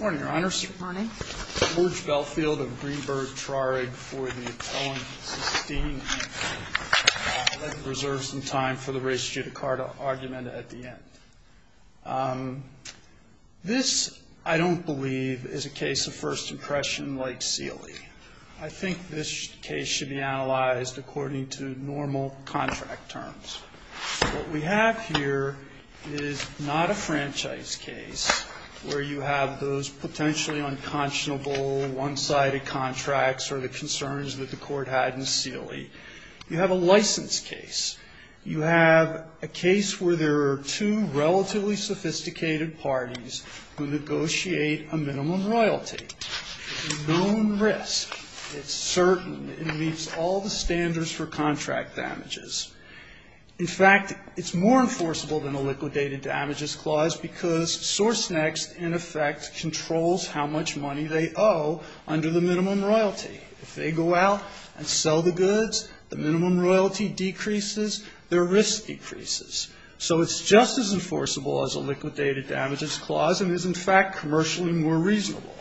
Morning, Your Honors. Morning. George Belfield of Greenberg-Trarig for the Owen-Susteen, Inc. reserves some time for the race judicata argument at the end. This, I don't believe, is a case of first impression like Seeley. I think this case should be analyzed according to normal contract terms. What we have here is not a franchise case where you have those potentially unconscionable one-sided contracts or the concerns that the court had in Seeley. You have a license case. You have a case where there are two relatively sophisticated parties who negotiate a minimum royalty. It's known risk. It's certain. It meets all the standards for contract damages. In fact, it's more enforceable than a liquidated damages clause because Sourcenext, in effect, controls how much money they owe under the minimum royalty. If they go out and sell the goods, the minimum royalty decreases, their risk decreases. So it's just as enforceable as a liquidated damages clause and is, in fact, commercially more reasonable.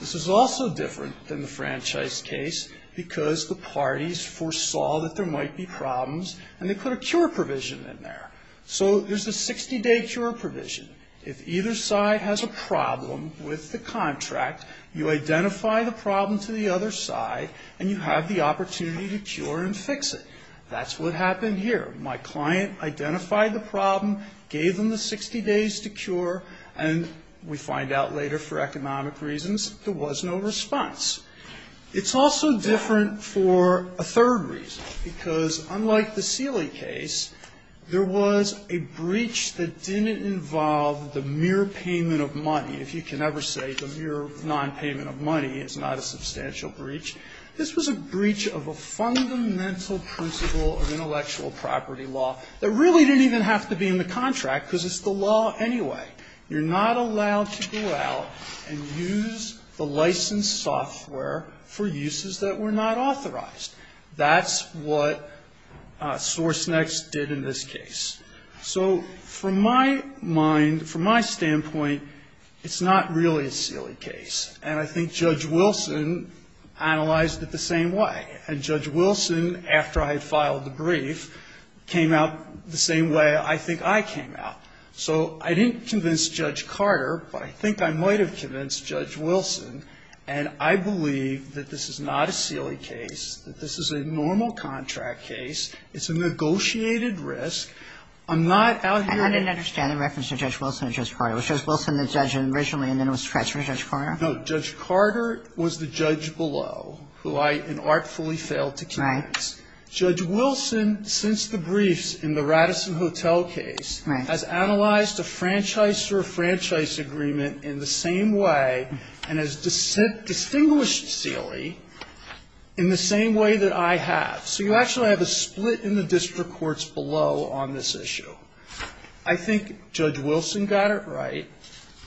This is also different than the franchise case because the parties foresaw that there might be problems, and they put a cure provision in there. So there's a 60-day cure provision. If either side has a problem with the contract, you identify the problem to the other side, and you have the opportunity to cure and fix it. That's what happened here. My client identified the problem, gave them the 60 days to cure, and we find out later, for economic reasons, there was no response. It's also different for a third reason, because unlike the Seeley case, there was a breach that didn't involve the mere payment of money. If you can ever say the mere nonpayment of money, it's not a substantial breach. This was a breach of a fundamental principle of intellectual property law that really didn't even have to be in the contract because it's the law anyway. You're not allowed to go out and use the licensed software for uses that were not authorized. That's what SourceNext did in this case. So from my mind, from my standpoint, it's not really a Seeley case. And I think Judge Wilson analyzed it the same way. And Judge Wilson, after I had filed the brief, came out the same way I think I came out. So I didn't convince Judge Carter, but I think I might have convinced Judge Wilson. And I believe that this is not a Seeley case, that this is a normal contract case. It's a negotiated risk. I'm not out here. And I didn't understand the reference to Judge Wilson and Judge Carter. Was Judge Wilson the judge originally and then was stretched for Judge Carter? No. Judge Carter was the judge below, who I inartfully failed to convince. Right. Judge Wilson, since the briefs in the Radisson Hotel case, has analyzed a franchise or a franchise agreement in the same way and has distinguished Seeley in the same way that I have. So you actually have a split in the district courts below on this issue. I think Judge Wilson got it right.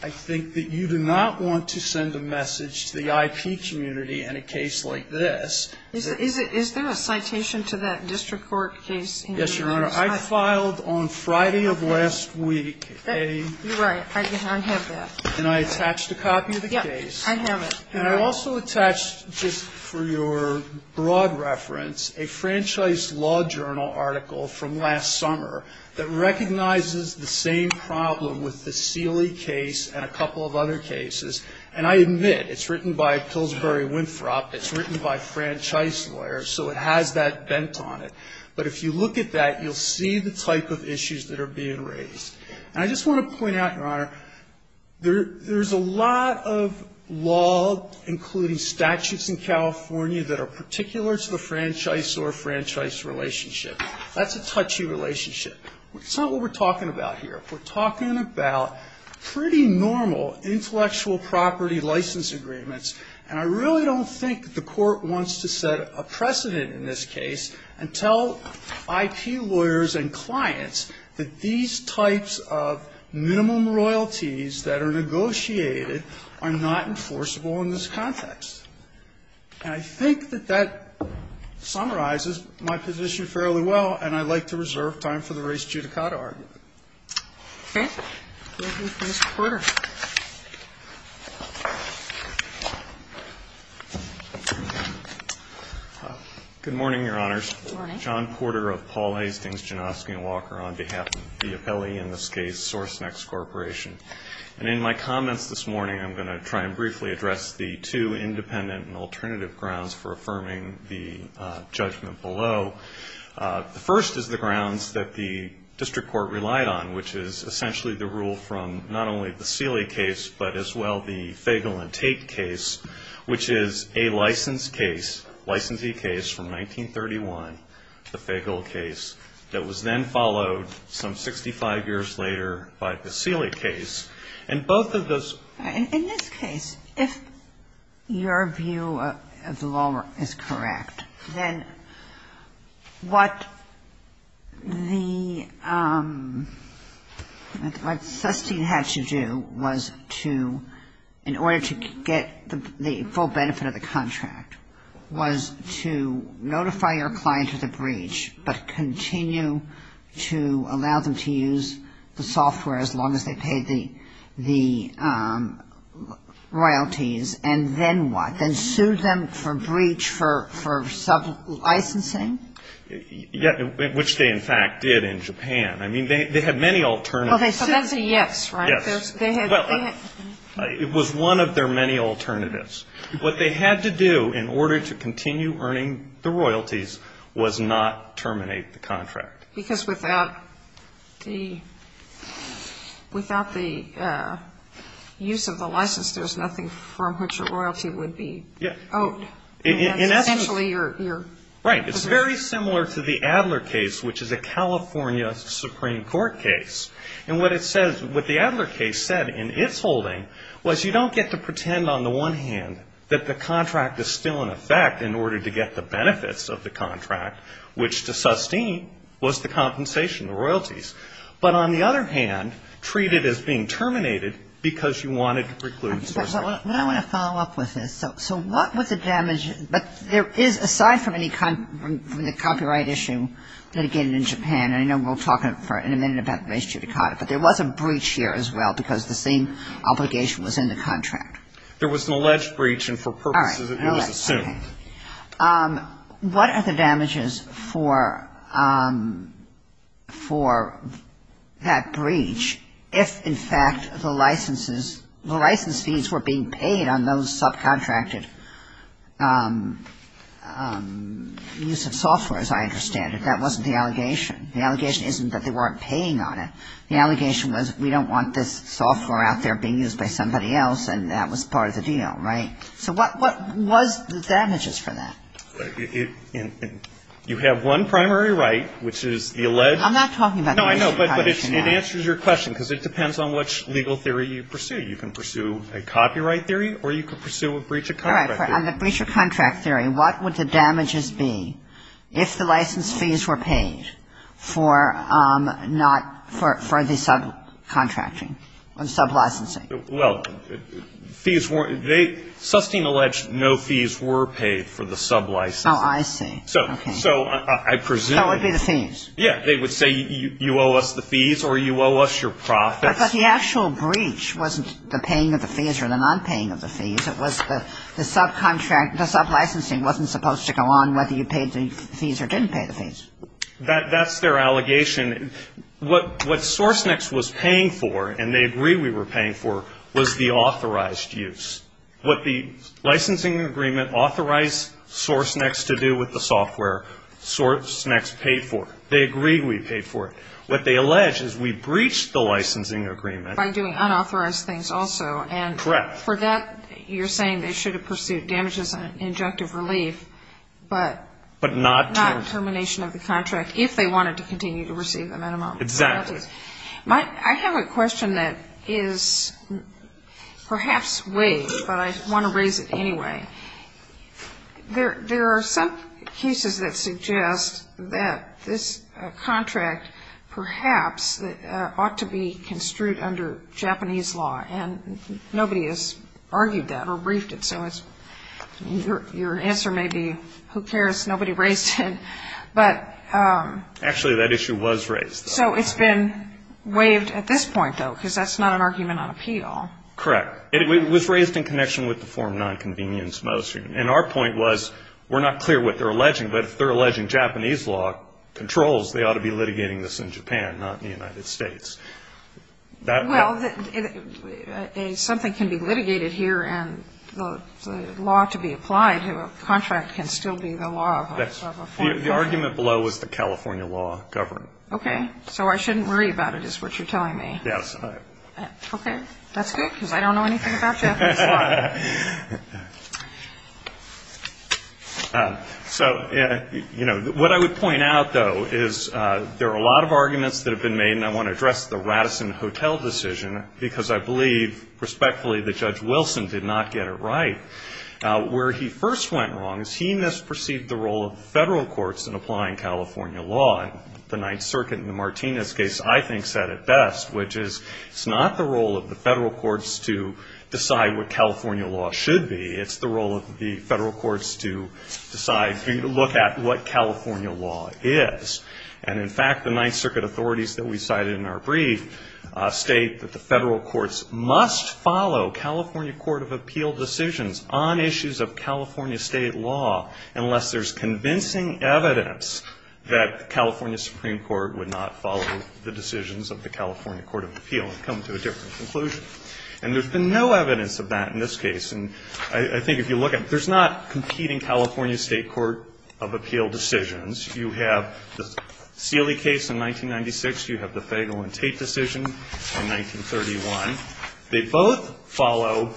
I think that you do not want to send a message to the IP community in a case like this. Is there a citation to that district court case? Yes, Your Honor. I filed on Friday of last week a ---- You're right. I have that. And I attached a copy of the case. I have it. And I also attached just for your broad reference a franchise law journal article from last summer that recognizes the same problem with the Seeley case and a couple of other cases. And I admit, it's written by Pillsbury Winthrop. It's written by franchise lawyers. So it has that bent on it. But if you look at that, you'll see the type of issues that are being raised. And I just want to point out, Your Honor, there's a lot of law, including statutes in California, that are particular to the franchise or franchise relationship. That's a touchy relationship. It's not what we're talking about here. We're talking about pretty normal intellectual property license agreements. And I really don't think the court wants to set a precedent in this case and tell IP lawyers and clients that these types of minimum royalties that are negotiated are not enforceable in this context. And I think that that summarizes my position fairly well, and I'd like to reserve time for the race-judicata argument. Okay. We'll move to Mr. Porter. Good morning, Your Honors. Good morning. John Porter of Paul Hastings, Janofsky & Walker, on behalf of the appellee in this case, SourceNext Corporation. And in my comments this morning, I'm going to try and briefly address the two independent and alternative grounds for affirming the judgment below. The first is the grounds that the district court relied on, which is essentially the rule from not only the Seeley case, but as well the Fagel and Tate case, which is a license case, licensee case, from 1931, the Fagel case, that was then In this case, if your view of the law is correct, then what the ‑‑ what Susteen had to do was to, in order to get the full benefit of the contract, was to notify your client of the breach, but continue to allow them to use the software as long as they paid the royalties. And then what? Then sue them for breach for sublicensing? Which they, in fact, did in Japan. I mean, they had many alternatives. So that's a yes, right? Yes. Well, it was one of their many alternatives. What they had to do in order to continue earning the royalties was not terminate the contract. Because without the ‑‑ without the use of the license, there's nothing from which a royalty would be owed. Essentially, you're ‑‑ Right. It's very similar to the Adler case, which is a California Supreme Court case. And what it says, what the Adler case said in its holding was you don't get to pretend, on the one hand, that the contract is still in effect in order to get the benefits of the contract, which to Susteen was the compensation, the royalties. But on the other hand, treat it as being terminated because you wanted to preclude source of ‑‑ But I want to follow up with this. So what was the damage? But there is, aside from any copyright issue litigated in Japan, but there was a breach here as well because the same obligation was in the contract. There was an alleged breach, and for purposes of ‑‑ All right. Okay. What are the damages for that breach if, in fact, the licenses, the license fees were being paid on those subcontracted use of software, as I understand it. But that wasn't the allegation. The allegation isn't that they weren't paying on it. The allegation was we don't want this software out there being used by somebody else, and that was part of the deal, right? So what was the damages for that? You have one primary right, which is the alleged ‑‑ I'm not talking about ‑‑ No, I know. But it answers your question because it depends on which legal theory you pursue. You can pursue a copyright theory or you can pursue a breach of contract theory. What would the damages be if the license fees were paid for not ‑‑ for the subcontracting, sublicensing? Well, fees weren't ‑‑ Sustein alleged no fees were paid for the sublicensing. Oh, I see. So I presume ‑‑ So it would be the fees. Yeah. They would say you owe us the fees or you owe us your profits. But the actual breach wasn't the paying of the fees or the nonpaying of the fees. It was the subcontract ‑‑ the sublicensing wasn't supposed to go on whether you paid the fees or didn't pay the fees. That's their allegation. What Sourcenext was paying for, and they agree we were paying for, was the authorized use. What the licensing agreement authorized Sourcenext to do with the software, Sourcenext paid for. They agree we paid for it. What they allege is we breached the licensing agreement. By doing unauthorized things also. Correct. For that, you're saying they should have pursued damages and injunctive relief, but not termination of the contract, if they wanted to continue to receive the minimum penalties. Exactly. I have a question that is perhaps vague, but I want to raise it anyway. There are some cases that suggest that this contract perhaps ought to be construed under Japanese law, and nobody has argued that or briefed it, so your answer may be, who cares, nobody raised it. But ‑‑ Actually, that issue was raised. So it's been waived at this point, though, because that's not an argument on appeal. Correct. It was raised in connection with the Form 9 convenience motion, and our point was we're not clear what they're alleging, but if they're alleging Japanese law controls, they ought to be litigating this in Japan, not in the United States. Well, something can be litigated here, and the law to be applied to a contract can still be the law of a foreign country. The argument below was the California law governed. Okay. So I shouldn't worry about it, is what you're telling me. Yes. Okay. That's good, because I don't know anything about Japanese law. So, you know, what I would point out, though, is there are a lot of arguments that have been made, and I want to address the Radisson Hotel decision, because I believe respectfully that Judge Wilson did not get it right. Where he first went wrong is he misperceived the role of the federal courts in applying California law, and the Ninth Circuit in the Martinez case, I think, said it best, which is it's not the role of the federal courts to decide what California law should be. It's the role of the federal courts to decide, to look at what California law is. And, in fact, the Ninth Circuit authorities that we cited in our brief state that the federal courts must follow California Court of Appeal decisions on issues of California state law unless there's convincing evidence that the California Supreme Court would not follow the decisions of the California Court of Appeal and come to a different conclusion. And there's been no evidence of that in this case. And I think if you look at it, there's not competing California State Court of Appeal decisions. You have the Seeley case in 1996. You have the Fagel and Tate decision in 1931. They both follow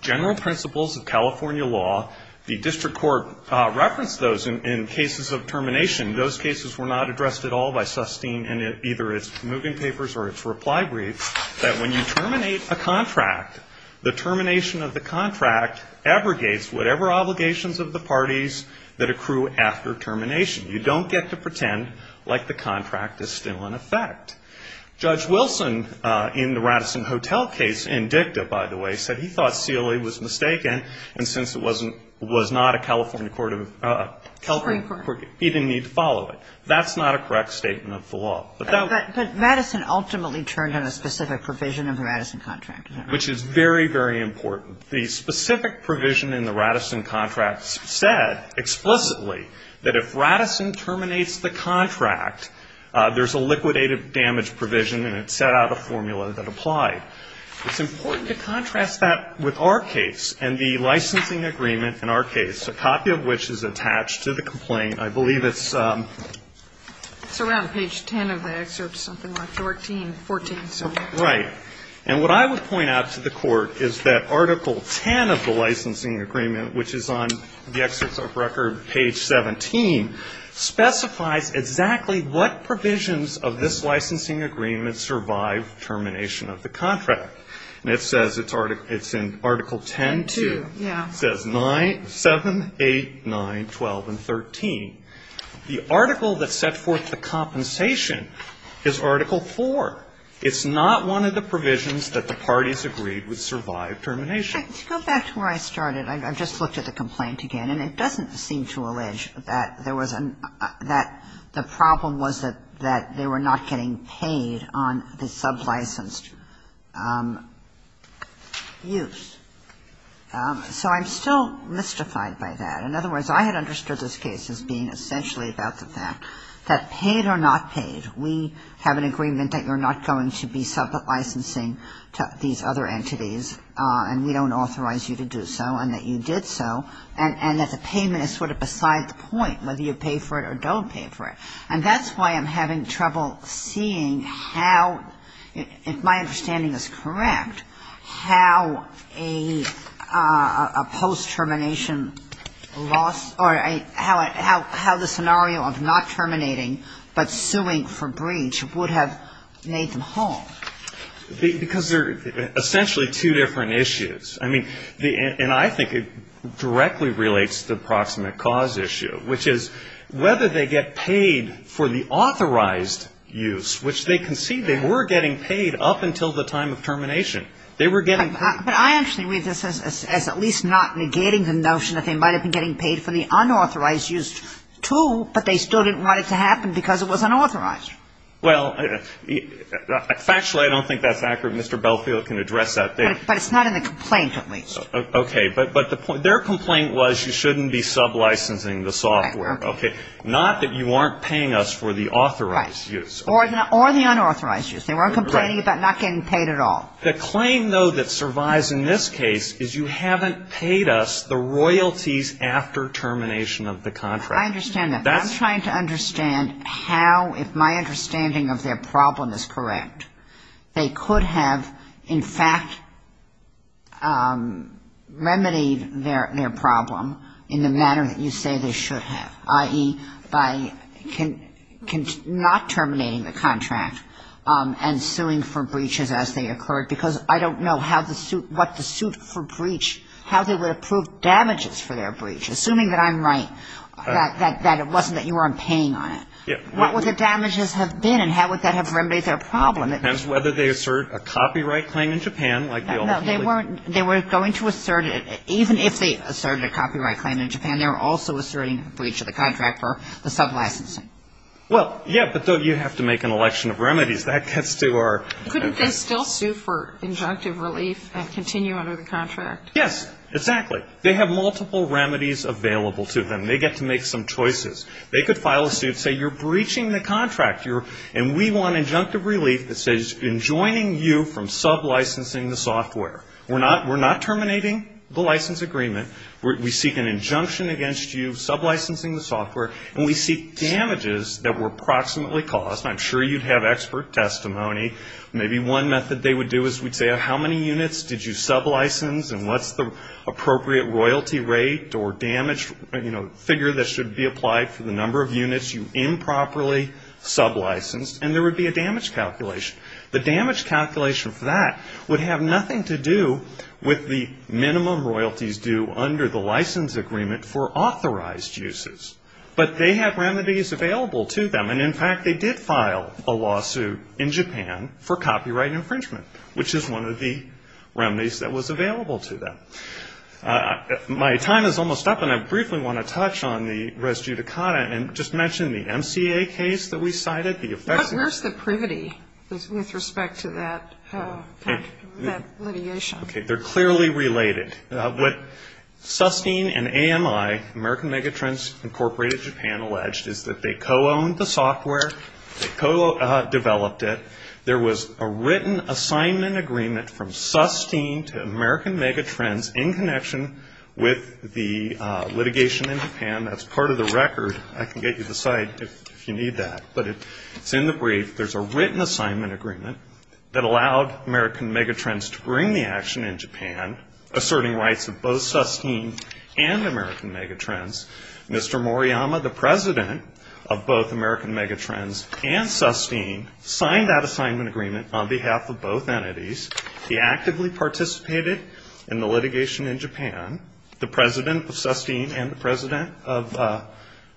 general principles of California law. The district court referenced those in cases of termination. Those cases were not addressed at all by Sustein in either its moving papers or its reply briefs, that when you terminate a contract, the termination of the contract abrogates whatever obligations of the parties that accrue after termination. You don't get to pretend like the contract is still in effect. Judge Wilson in the Radisson Hotel case, in dicta, by the way, said he thought Seeley was mistaken, and since it wasn't a California court of appeal, he didn't need to follow it. That's not a correct statement of the law. But that was the case. But Radisson ultimately turned on a specific provision of the Radisson contract. Which is very, very important. The specific provision in the Radisson contract said explicitly that if Radisson terminates the contract, there's a liquidated damage provision, and it set out a formula that applied. It's important to contrast that with our case and the licensing agreement in our case, a copy of which is attached to the complaint. I believe it's around page 10 of the excerpt, something like 14. Right. And what I would point out to the Court is that Article 10 of the licensing agreement, which is on the excerpts of record, page 17, specifies exactly what provisions of this licensing agreement survive termination of the contract. And it says it's in Article 10-2. Yeah. It says 9, 7, 8, 9, 12, and 13. The article that set forth the compensation is Article 4. It's not one of the provisions that the parties agreed would survive termination. To go back to where I started, I've just looked at the complaint again, and it doesn't seem to allege that there was a – that the problem was that they were not getting paid on the sublicensed use. So I'm still mystified by that. In other words, I had understood this case as being essentially about the fact that paid or not paid, we have an agreement that you're not going to be sublicensing these other entities, and we don't authorize you to do so, and that you did so, and that the payment is sort of beside the point whether you pay for it or don't pay for it. And that's why I'm having trouble seeing how, if my understanding is correct, how a post-termination loss or how the scenario of not terminating but suing for breach would have made them whole. Because they're essentially two different issues. I mean, and I think it directly relates to the proximate cause issue, which is whether they get paid for the authorized use, which they concede they were getting paid up until the time of termination. They were getting paid. But I actually read this as at least not negating the notion that they might have been getting paid for the unauthorized use, too, but they still didn't want it to happen because it was unauthorized. Well, factually, I don't think that's accurate. Mr. Bellfield can address that. But it's not in the complaint, at least. Okay. But their complaint was you shouldn't be sublicensing the software. Okay. Not that you aren't paying us for the authorized use. Right. Or the unauthorized use. They weren't complaining about not getting paid at all. The claim, though, that survives in this case is you haven't paid us the royalties after termination of the contract. I understand that. I'm trying to understand how, if my understanding of their problem is correct, they could have, in fact, remedied their problem in the manner that you say they should have, i.e., by not terminating the contract and suing for breaches as they occurred, because I don't know what the suit for breach, how they would have proved damages for their breach, assuming that I'm right, that it wasn't that you weren't paying on it. What would the damages have been and how would that have remedied their problem It depends whether they assert a copyright claim in Japan. No, they weren't going to assert it. Even if they asserted a copyright claim in Japan, they were also asserting a breach of the contract for the sublicensing. Well, yeah, but you have to make an election of remedies. That gets to our Couldn't they still sue for injunctive relief and continue under the contract? Yes. Exactly. They have multiple remedies available to them. They get to make some choices. They could file a suit and say you're breaching the contract and we want injunctive relief that says in joining you from sublicensing the software. We're not terminating the license agreement. We seek an injunction against you, sublicensing the software, and we seek damages that were approximately caused. I'm sure you'd have expert testimony. Maybe one method they would do is we'd say how many units did you sublicense and what's the appropriate royalty rate or damage figure that should be applied for the number of units you improperly sublicensed. And there would be a damage calculation. The damage calculation for that would have nothing to do with the minimum royalties due under the license agreement for authorized uses. But they have remedies available to them. And, in fact, they did file a lawsuit in Japan for copyright infringement, which is one of the remedies that was available to them. My time is almost up, and I briefly want to touch on the res judicata and just Where's the privity with respect to that litigation? Okay, they're clearly related. What Sustene and AMI, American Megatrends Incorporated Japan, alleged is that they co-owned the software, they co-developed it. There was a written assignment agreement from Sustene to American Megatrends in connection with the litigation in Japan. That's part of the record. I can get you the site if you need that. But it's in the brief. There's a written assignment agreement that allowed American Megatrends to bring the action in Japan, asserting rights of both Sustene and American Megatrends. Mr. Moriyama, the president of both American Megatrends and Sustene, signed that assignment agreement on behalf of both entities. He actively participated in the litigation in Japan, the president of Sustene and the president of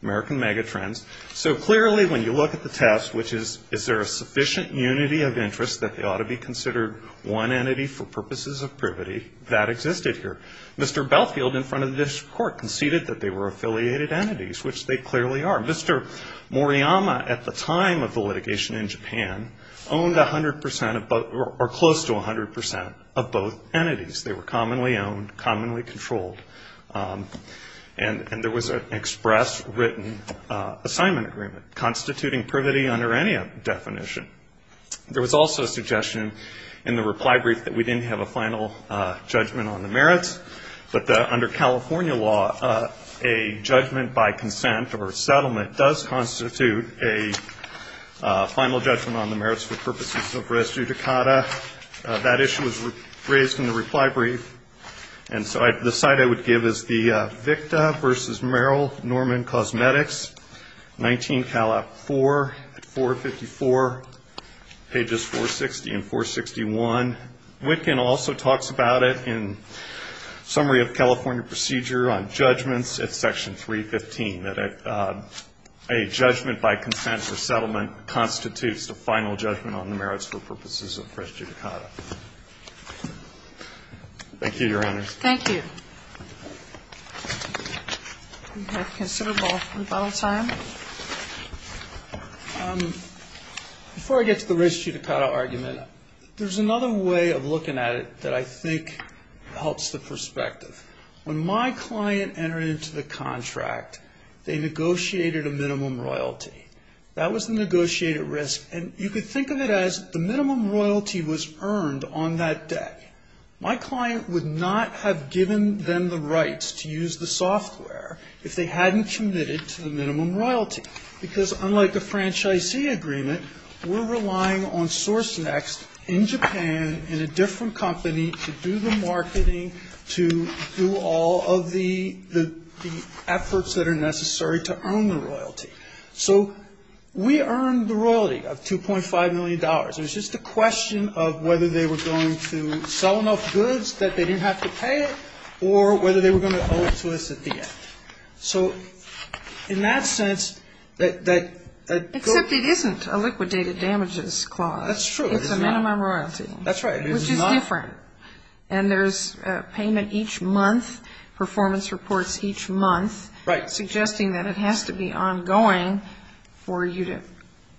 American Megatrends. So clearly when you look at the test, which is, is there a sufficient unity of interest that they ought to be considered one entity for purposes of privity, that existed here. Mr. Belfield in front of this court conceded that they were affiliated entities, which they clearly are. Mr. Moriyama, at the time of the litigation in Japan, owned close to 100% of both entities. They were commonly owned, commonly controlled. And there was an express written assignment agreement, constituting privity under any definition. There was also a suggestion in the reply brief that we didn't have a final judgment on the merits. But under California law, a judgment by consent or settlement does constitute a final judgment on the merits for purposes of res judicata. That issue was raised in the reply brief. And so the side I would give is the Vickta v. Merrill Norman Cosmetics, 19, 4, 454, pages 460 and 461. Witkin also talks about it in Summary of California Procedure on Judgments at Section 315, that a judgment by consent or settlement constitutes a final judgment on the merits for purposes of res judicata. Thank you, Your Honors. Thank you. We have considerable rebuttal time. Before I get to the res judicata argument, there's another way of looking at it that I think helps the perspective. When my client entered into the contract, they negotiated a minimum royalty. That was the negotiated risk. And you could think of it as the minimum royalty was earned on that day. My client would not have given them the rights to use the software if they hadn't committed to the minimum royalty, because unlike a franchisee agreement, we're relying on SourceNext in Japan in a different company to do the marketing, to do all of the efforts that are necessary to earn the royalty. So we earned the royalty of $2.5 million. It was just a question of whether they were going to sell enough goods that they didn't have to pay it or whether they were going to owe it to us at the end. So in that sense, that goes to the... Except it isn't a liquidated damages clause. That's true. It's a minimum royalty. That's right. Which is different. And there's payment each month, performance reports each month... Right. ...suggesting that it has to be ongoing for you to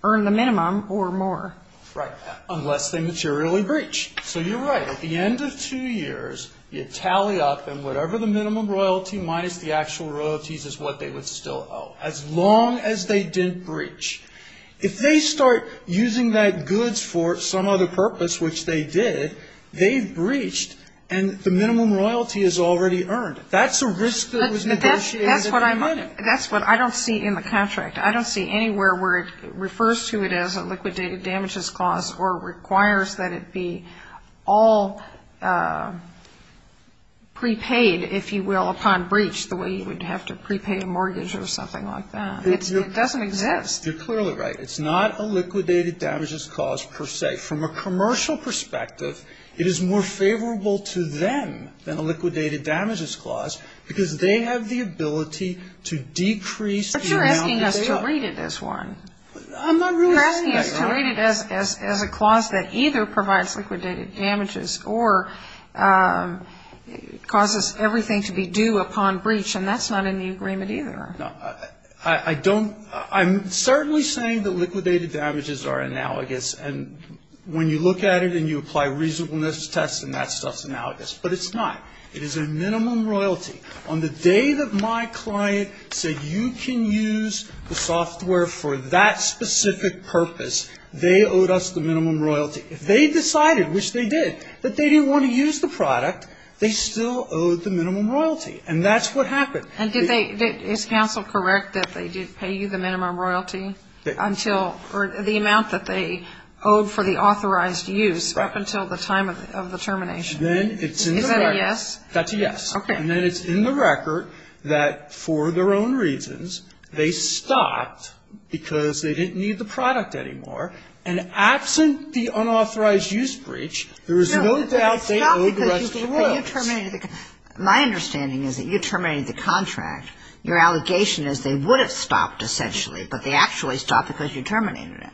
earn the minimum or more. Right. Unless they materially breach. So you're right. At the end of two years, you tally up and whatever the minimum royalty minus the actual royalties is what they would still owe, as long as they didn't breach. If they start using that goods for some other purpose, which they did, they've breached, and the minimum royalty is already earned. That's a risk that was negotiated... That's what I don't see in the contract. I don't see anywhere where it refers to it as a liquidated damages clause or requires that it be all prepaid, if you will, upon breach, the way you would have to prepay a mortgage or something like that. It doesn't exist. You're clearly right. It's not a liquidated damages clause per se. From a commercial perspective, it is more favorable to them than a liquidated damages clause because they have the ability to decrease... But you're asking us to read it as one. I'm not really saying that. You're asking us to read it as a clause that either provides liquidated damages or causes everything to be due upon breach, and that's not in the agreement either. No, I don't. I'm certainly saying that liquidated damages are analogous, and when you look at it and you apply reasonableness tests and that stuff's analogous. But it's not. It is a minimum royalty. On the day that my client said you can use the software for that specific purpose, they owed us the minimum royalty. If they decided, which they did, that they didn't want to use the product, they still owed the minimum royalty, and that's what happened. And did they – is counsel correct that they did pay you the minimum royalty until – or the amount that they owed for the authorized use up until the time of the termination? Then it's in the record. Is that a yes? That's a yes. Okay. And then it's in the record that for their own reasons, they stopped because they didn't need the product anymore. And absent the unauthorized use breach, there is no doubt they owed the rest of the royalty. No, but they stopped because you terminated the – my understanding is that you terminated the contract. Your allegation is they would have stopped essentially, but they actually stopped because you terminated it.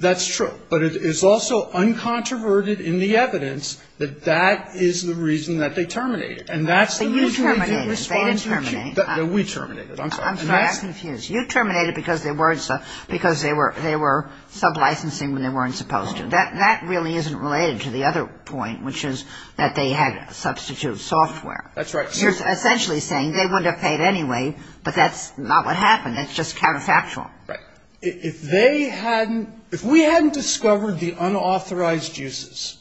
That's true. But it is also uncontroverted in the evidence that that is the reason that they terminated. And that's the reason they didn't respond to you. But you terminated. They didn't terminate. We terminated. I'm sorry. I'm confused. You terminated because they weren't – because they were sublicensing when they weren't supposed to. That really isn't related to the other point, which is that they had substitute software. That's right. You're essentially saying they wouldn't have paid anyway, but that's not what happened. That's just counterfactual. Right. If they hadn't – if we hadn't discovered the unauthorized uses,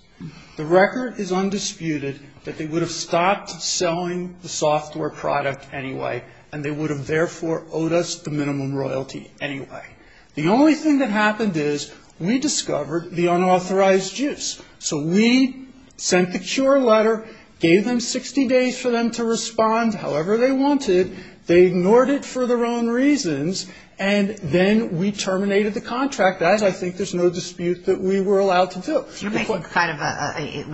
the record is undisputed that they would have stopped selling the software product anyway, and they would have therefore owed us the minimum royalty anyway. The only thing that happened is we discovered the unauthorized use. So we sent the cure letter, gave them 60 days for them to respond however they wanted. They ignored it for their own reasons, and then we terminated the contract. That is, I think there's no dispute that we were allowed to do. You're making kind of a –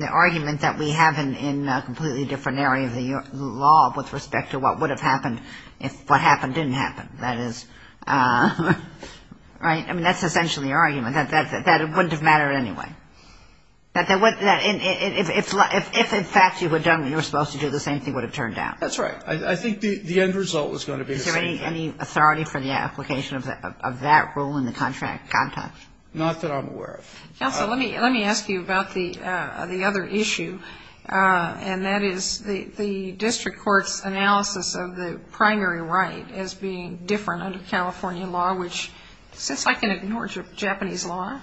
the argument that we have in a completely different area of the law with respect to what would have happened if what happened didn't happen. That is – right? I mean, that's essentially the argument, that it wouldn't have mattered anyway. If, in fact, you had done what you were supposed to do, the same thing would have turned out. That's right. I think the end result was going to be the same. Is there any authority for the application of that rule in the contract context? Not that I'm aware of. Counsel, let me ask you about the other issue, and that is the district court's analysis of the primary right as being different under California law, which since I can ignore Japanese law,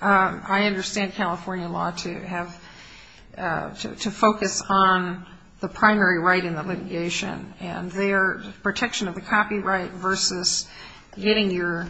I understand California law to have – to focus on the primary right in the litigation and their protection of the copyright versus getting your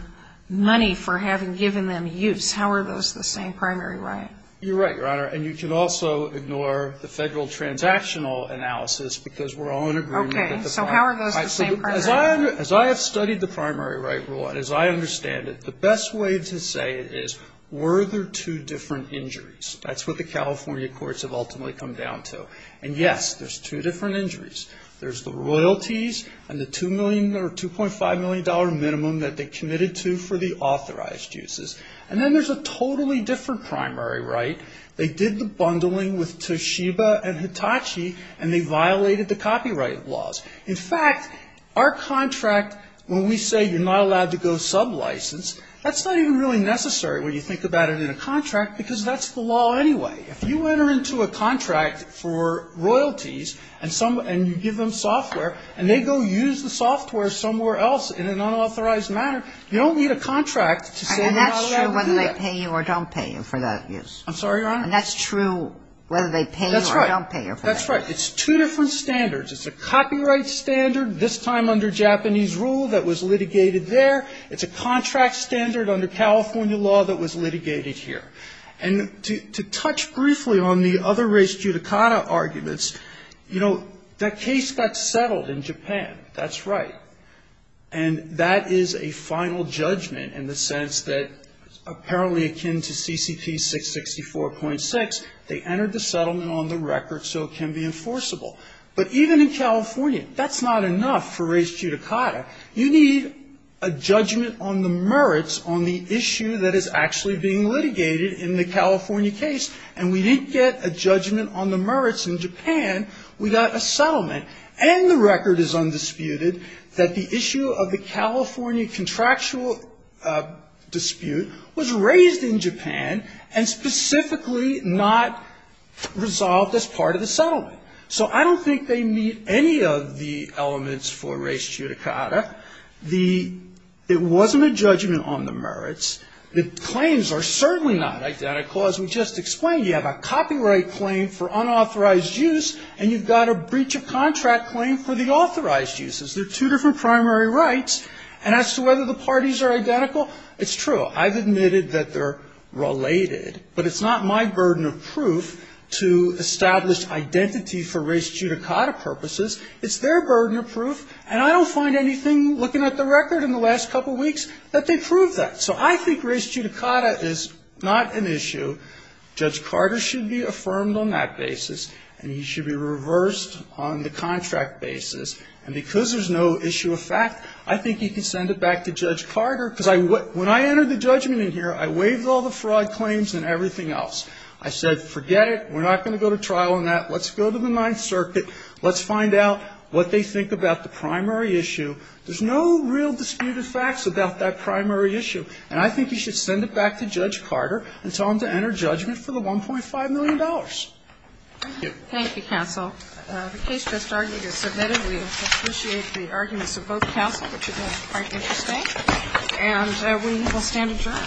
money for having given them use. How are those the same primary right? You're right, Your Honor, and you can also ignore the federal transactional analysis because we're all in agreement. Okay. So how are those the same primary right? As I have studied the primary right rule and as I understand it, the best way to say it is, were there two different injuries? That's what the California courts have ultimately come down to. And, yes, there's two different injuries. There's the royalties and the $2.5 million minimum that they committed to for the authorized uses. And then there's a totally different primary right. They did the bundling with Toshiba and Hitachi, and they violated the copyright laws. In fact, our contract, when we say you're not allowed to go sublicense, that's not even really necessary when you think about it in a contract because that's the law anyway. If you enter into a contract for royalties and you give them software and they go use the software somewhere else in an unauthorized manner, you don't need a contract to say you're not allowed to do that. And that's true whether they pay you or don't pay you for that use. I'm sorry, Your Honor? And that's true whether they pay you or don't pay you for that use. That's right. That's right. It's one of the standards. It's a copyright standard, this time under Japanese rule, that was litigated there. It's a contract standard under California law that was litigated here. And to touch briefly on the other race judicata arguments, you know, that case got settled in Japan. That's right. And that is a final judgment in the sense that apparently akin to CCP 664.6, they entered the settlement on the record so it can be enforceable. But even in California, that's not enough for race judicata. You need a judgment on the merits on the issue that is actually being litigated in the California case. And we didn't get a judgment on the merits in Japan. We got a settlement. And the record is undisputed that the issue of the California contractual dispute was raised in Japan and specifically not resolved as part of the settlement. So I don't think they meet any of the elements for race judicata. The ‑‑ it wasn't a judgment on the merits. The claims are certainly not identical. As we just explained, you have a copyright claim for unauthorized use, and you've got a breach of contract claim for the authorized uses. They're two different primary rights. And as to whether the parties are identical, it's true. I've admitted that they're related. But it's not my burden of proof to establish identity for race judicata purposes. It's their burden of proof. And I don't find anything, looking at the record in the last couple weeks, that they prove that. So I think race judicata is not an issue. Judge Carter should be affirmed on that basis, and he should be reversed on the contract basis. And because there's no issue of fact, I think he can send it back to Judge Carter. Because when I entered the judgment in here, I waived all the fraud claims and everything else. I said, forget it. We're not going to go to trial on that. Let's go to the Ninth Circuit. Let's find out what they think about the primary issue. There's no real disputed facts about that primary issue. And I think he should send it back to Judge Carter and tell him to enter judgment for the $1.5 million. Thank you. Thank you, counsel. The case just argued is submitted. We appreciate the arguments of both counsel, which is quite interesting. And we will stand adjourned. All rise. The Court is adjourned.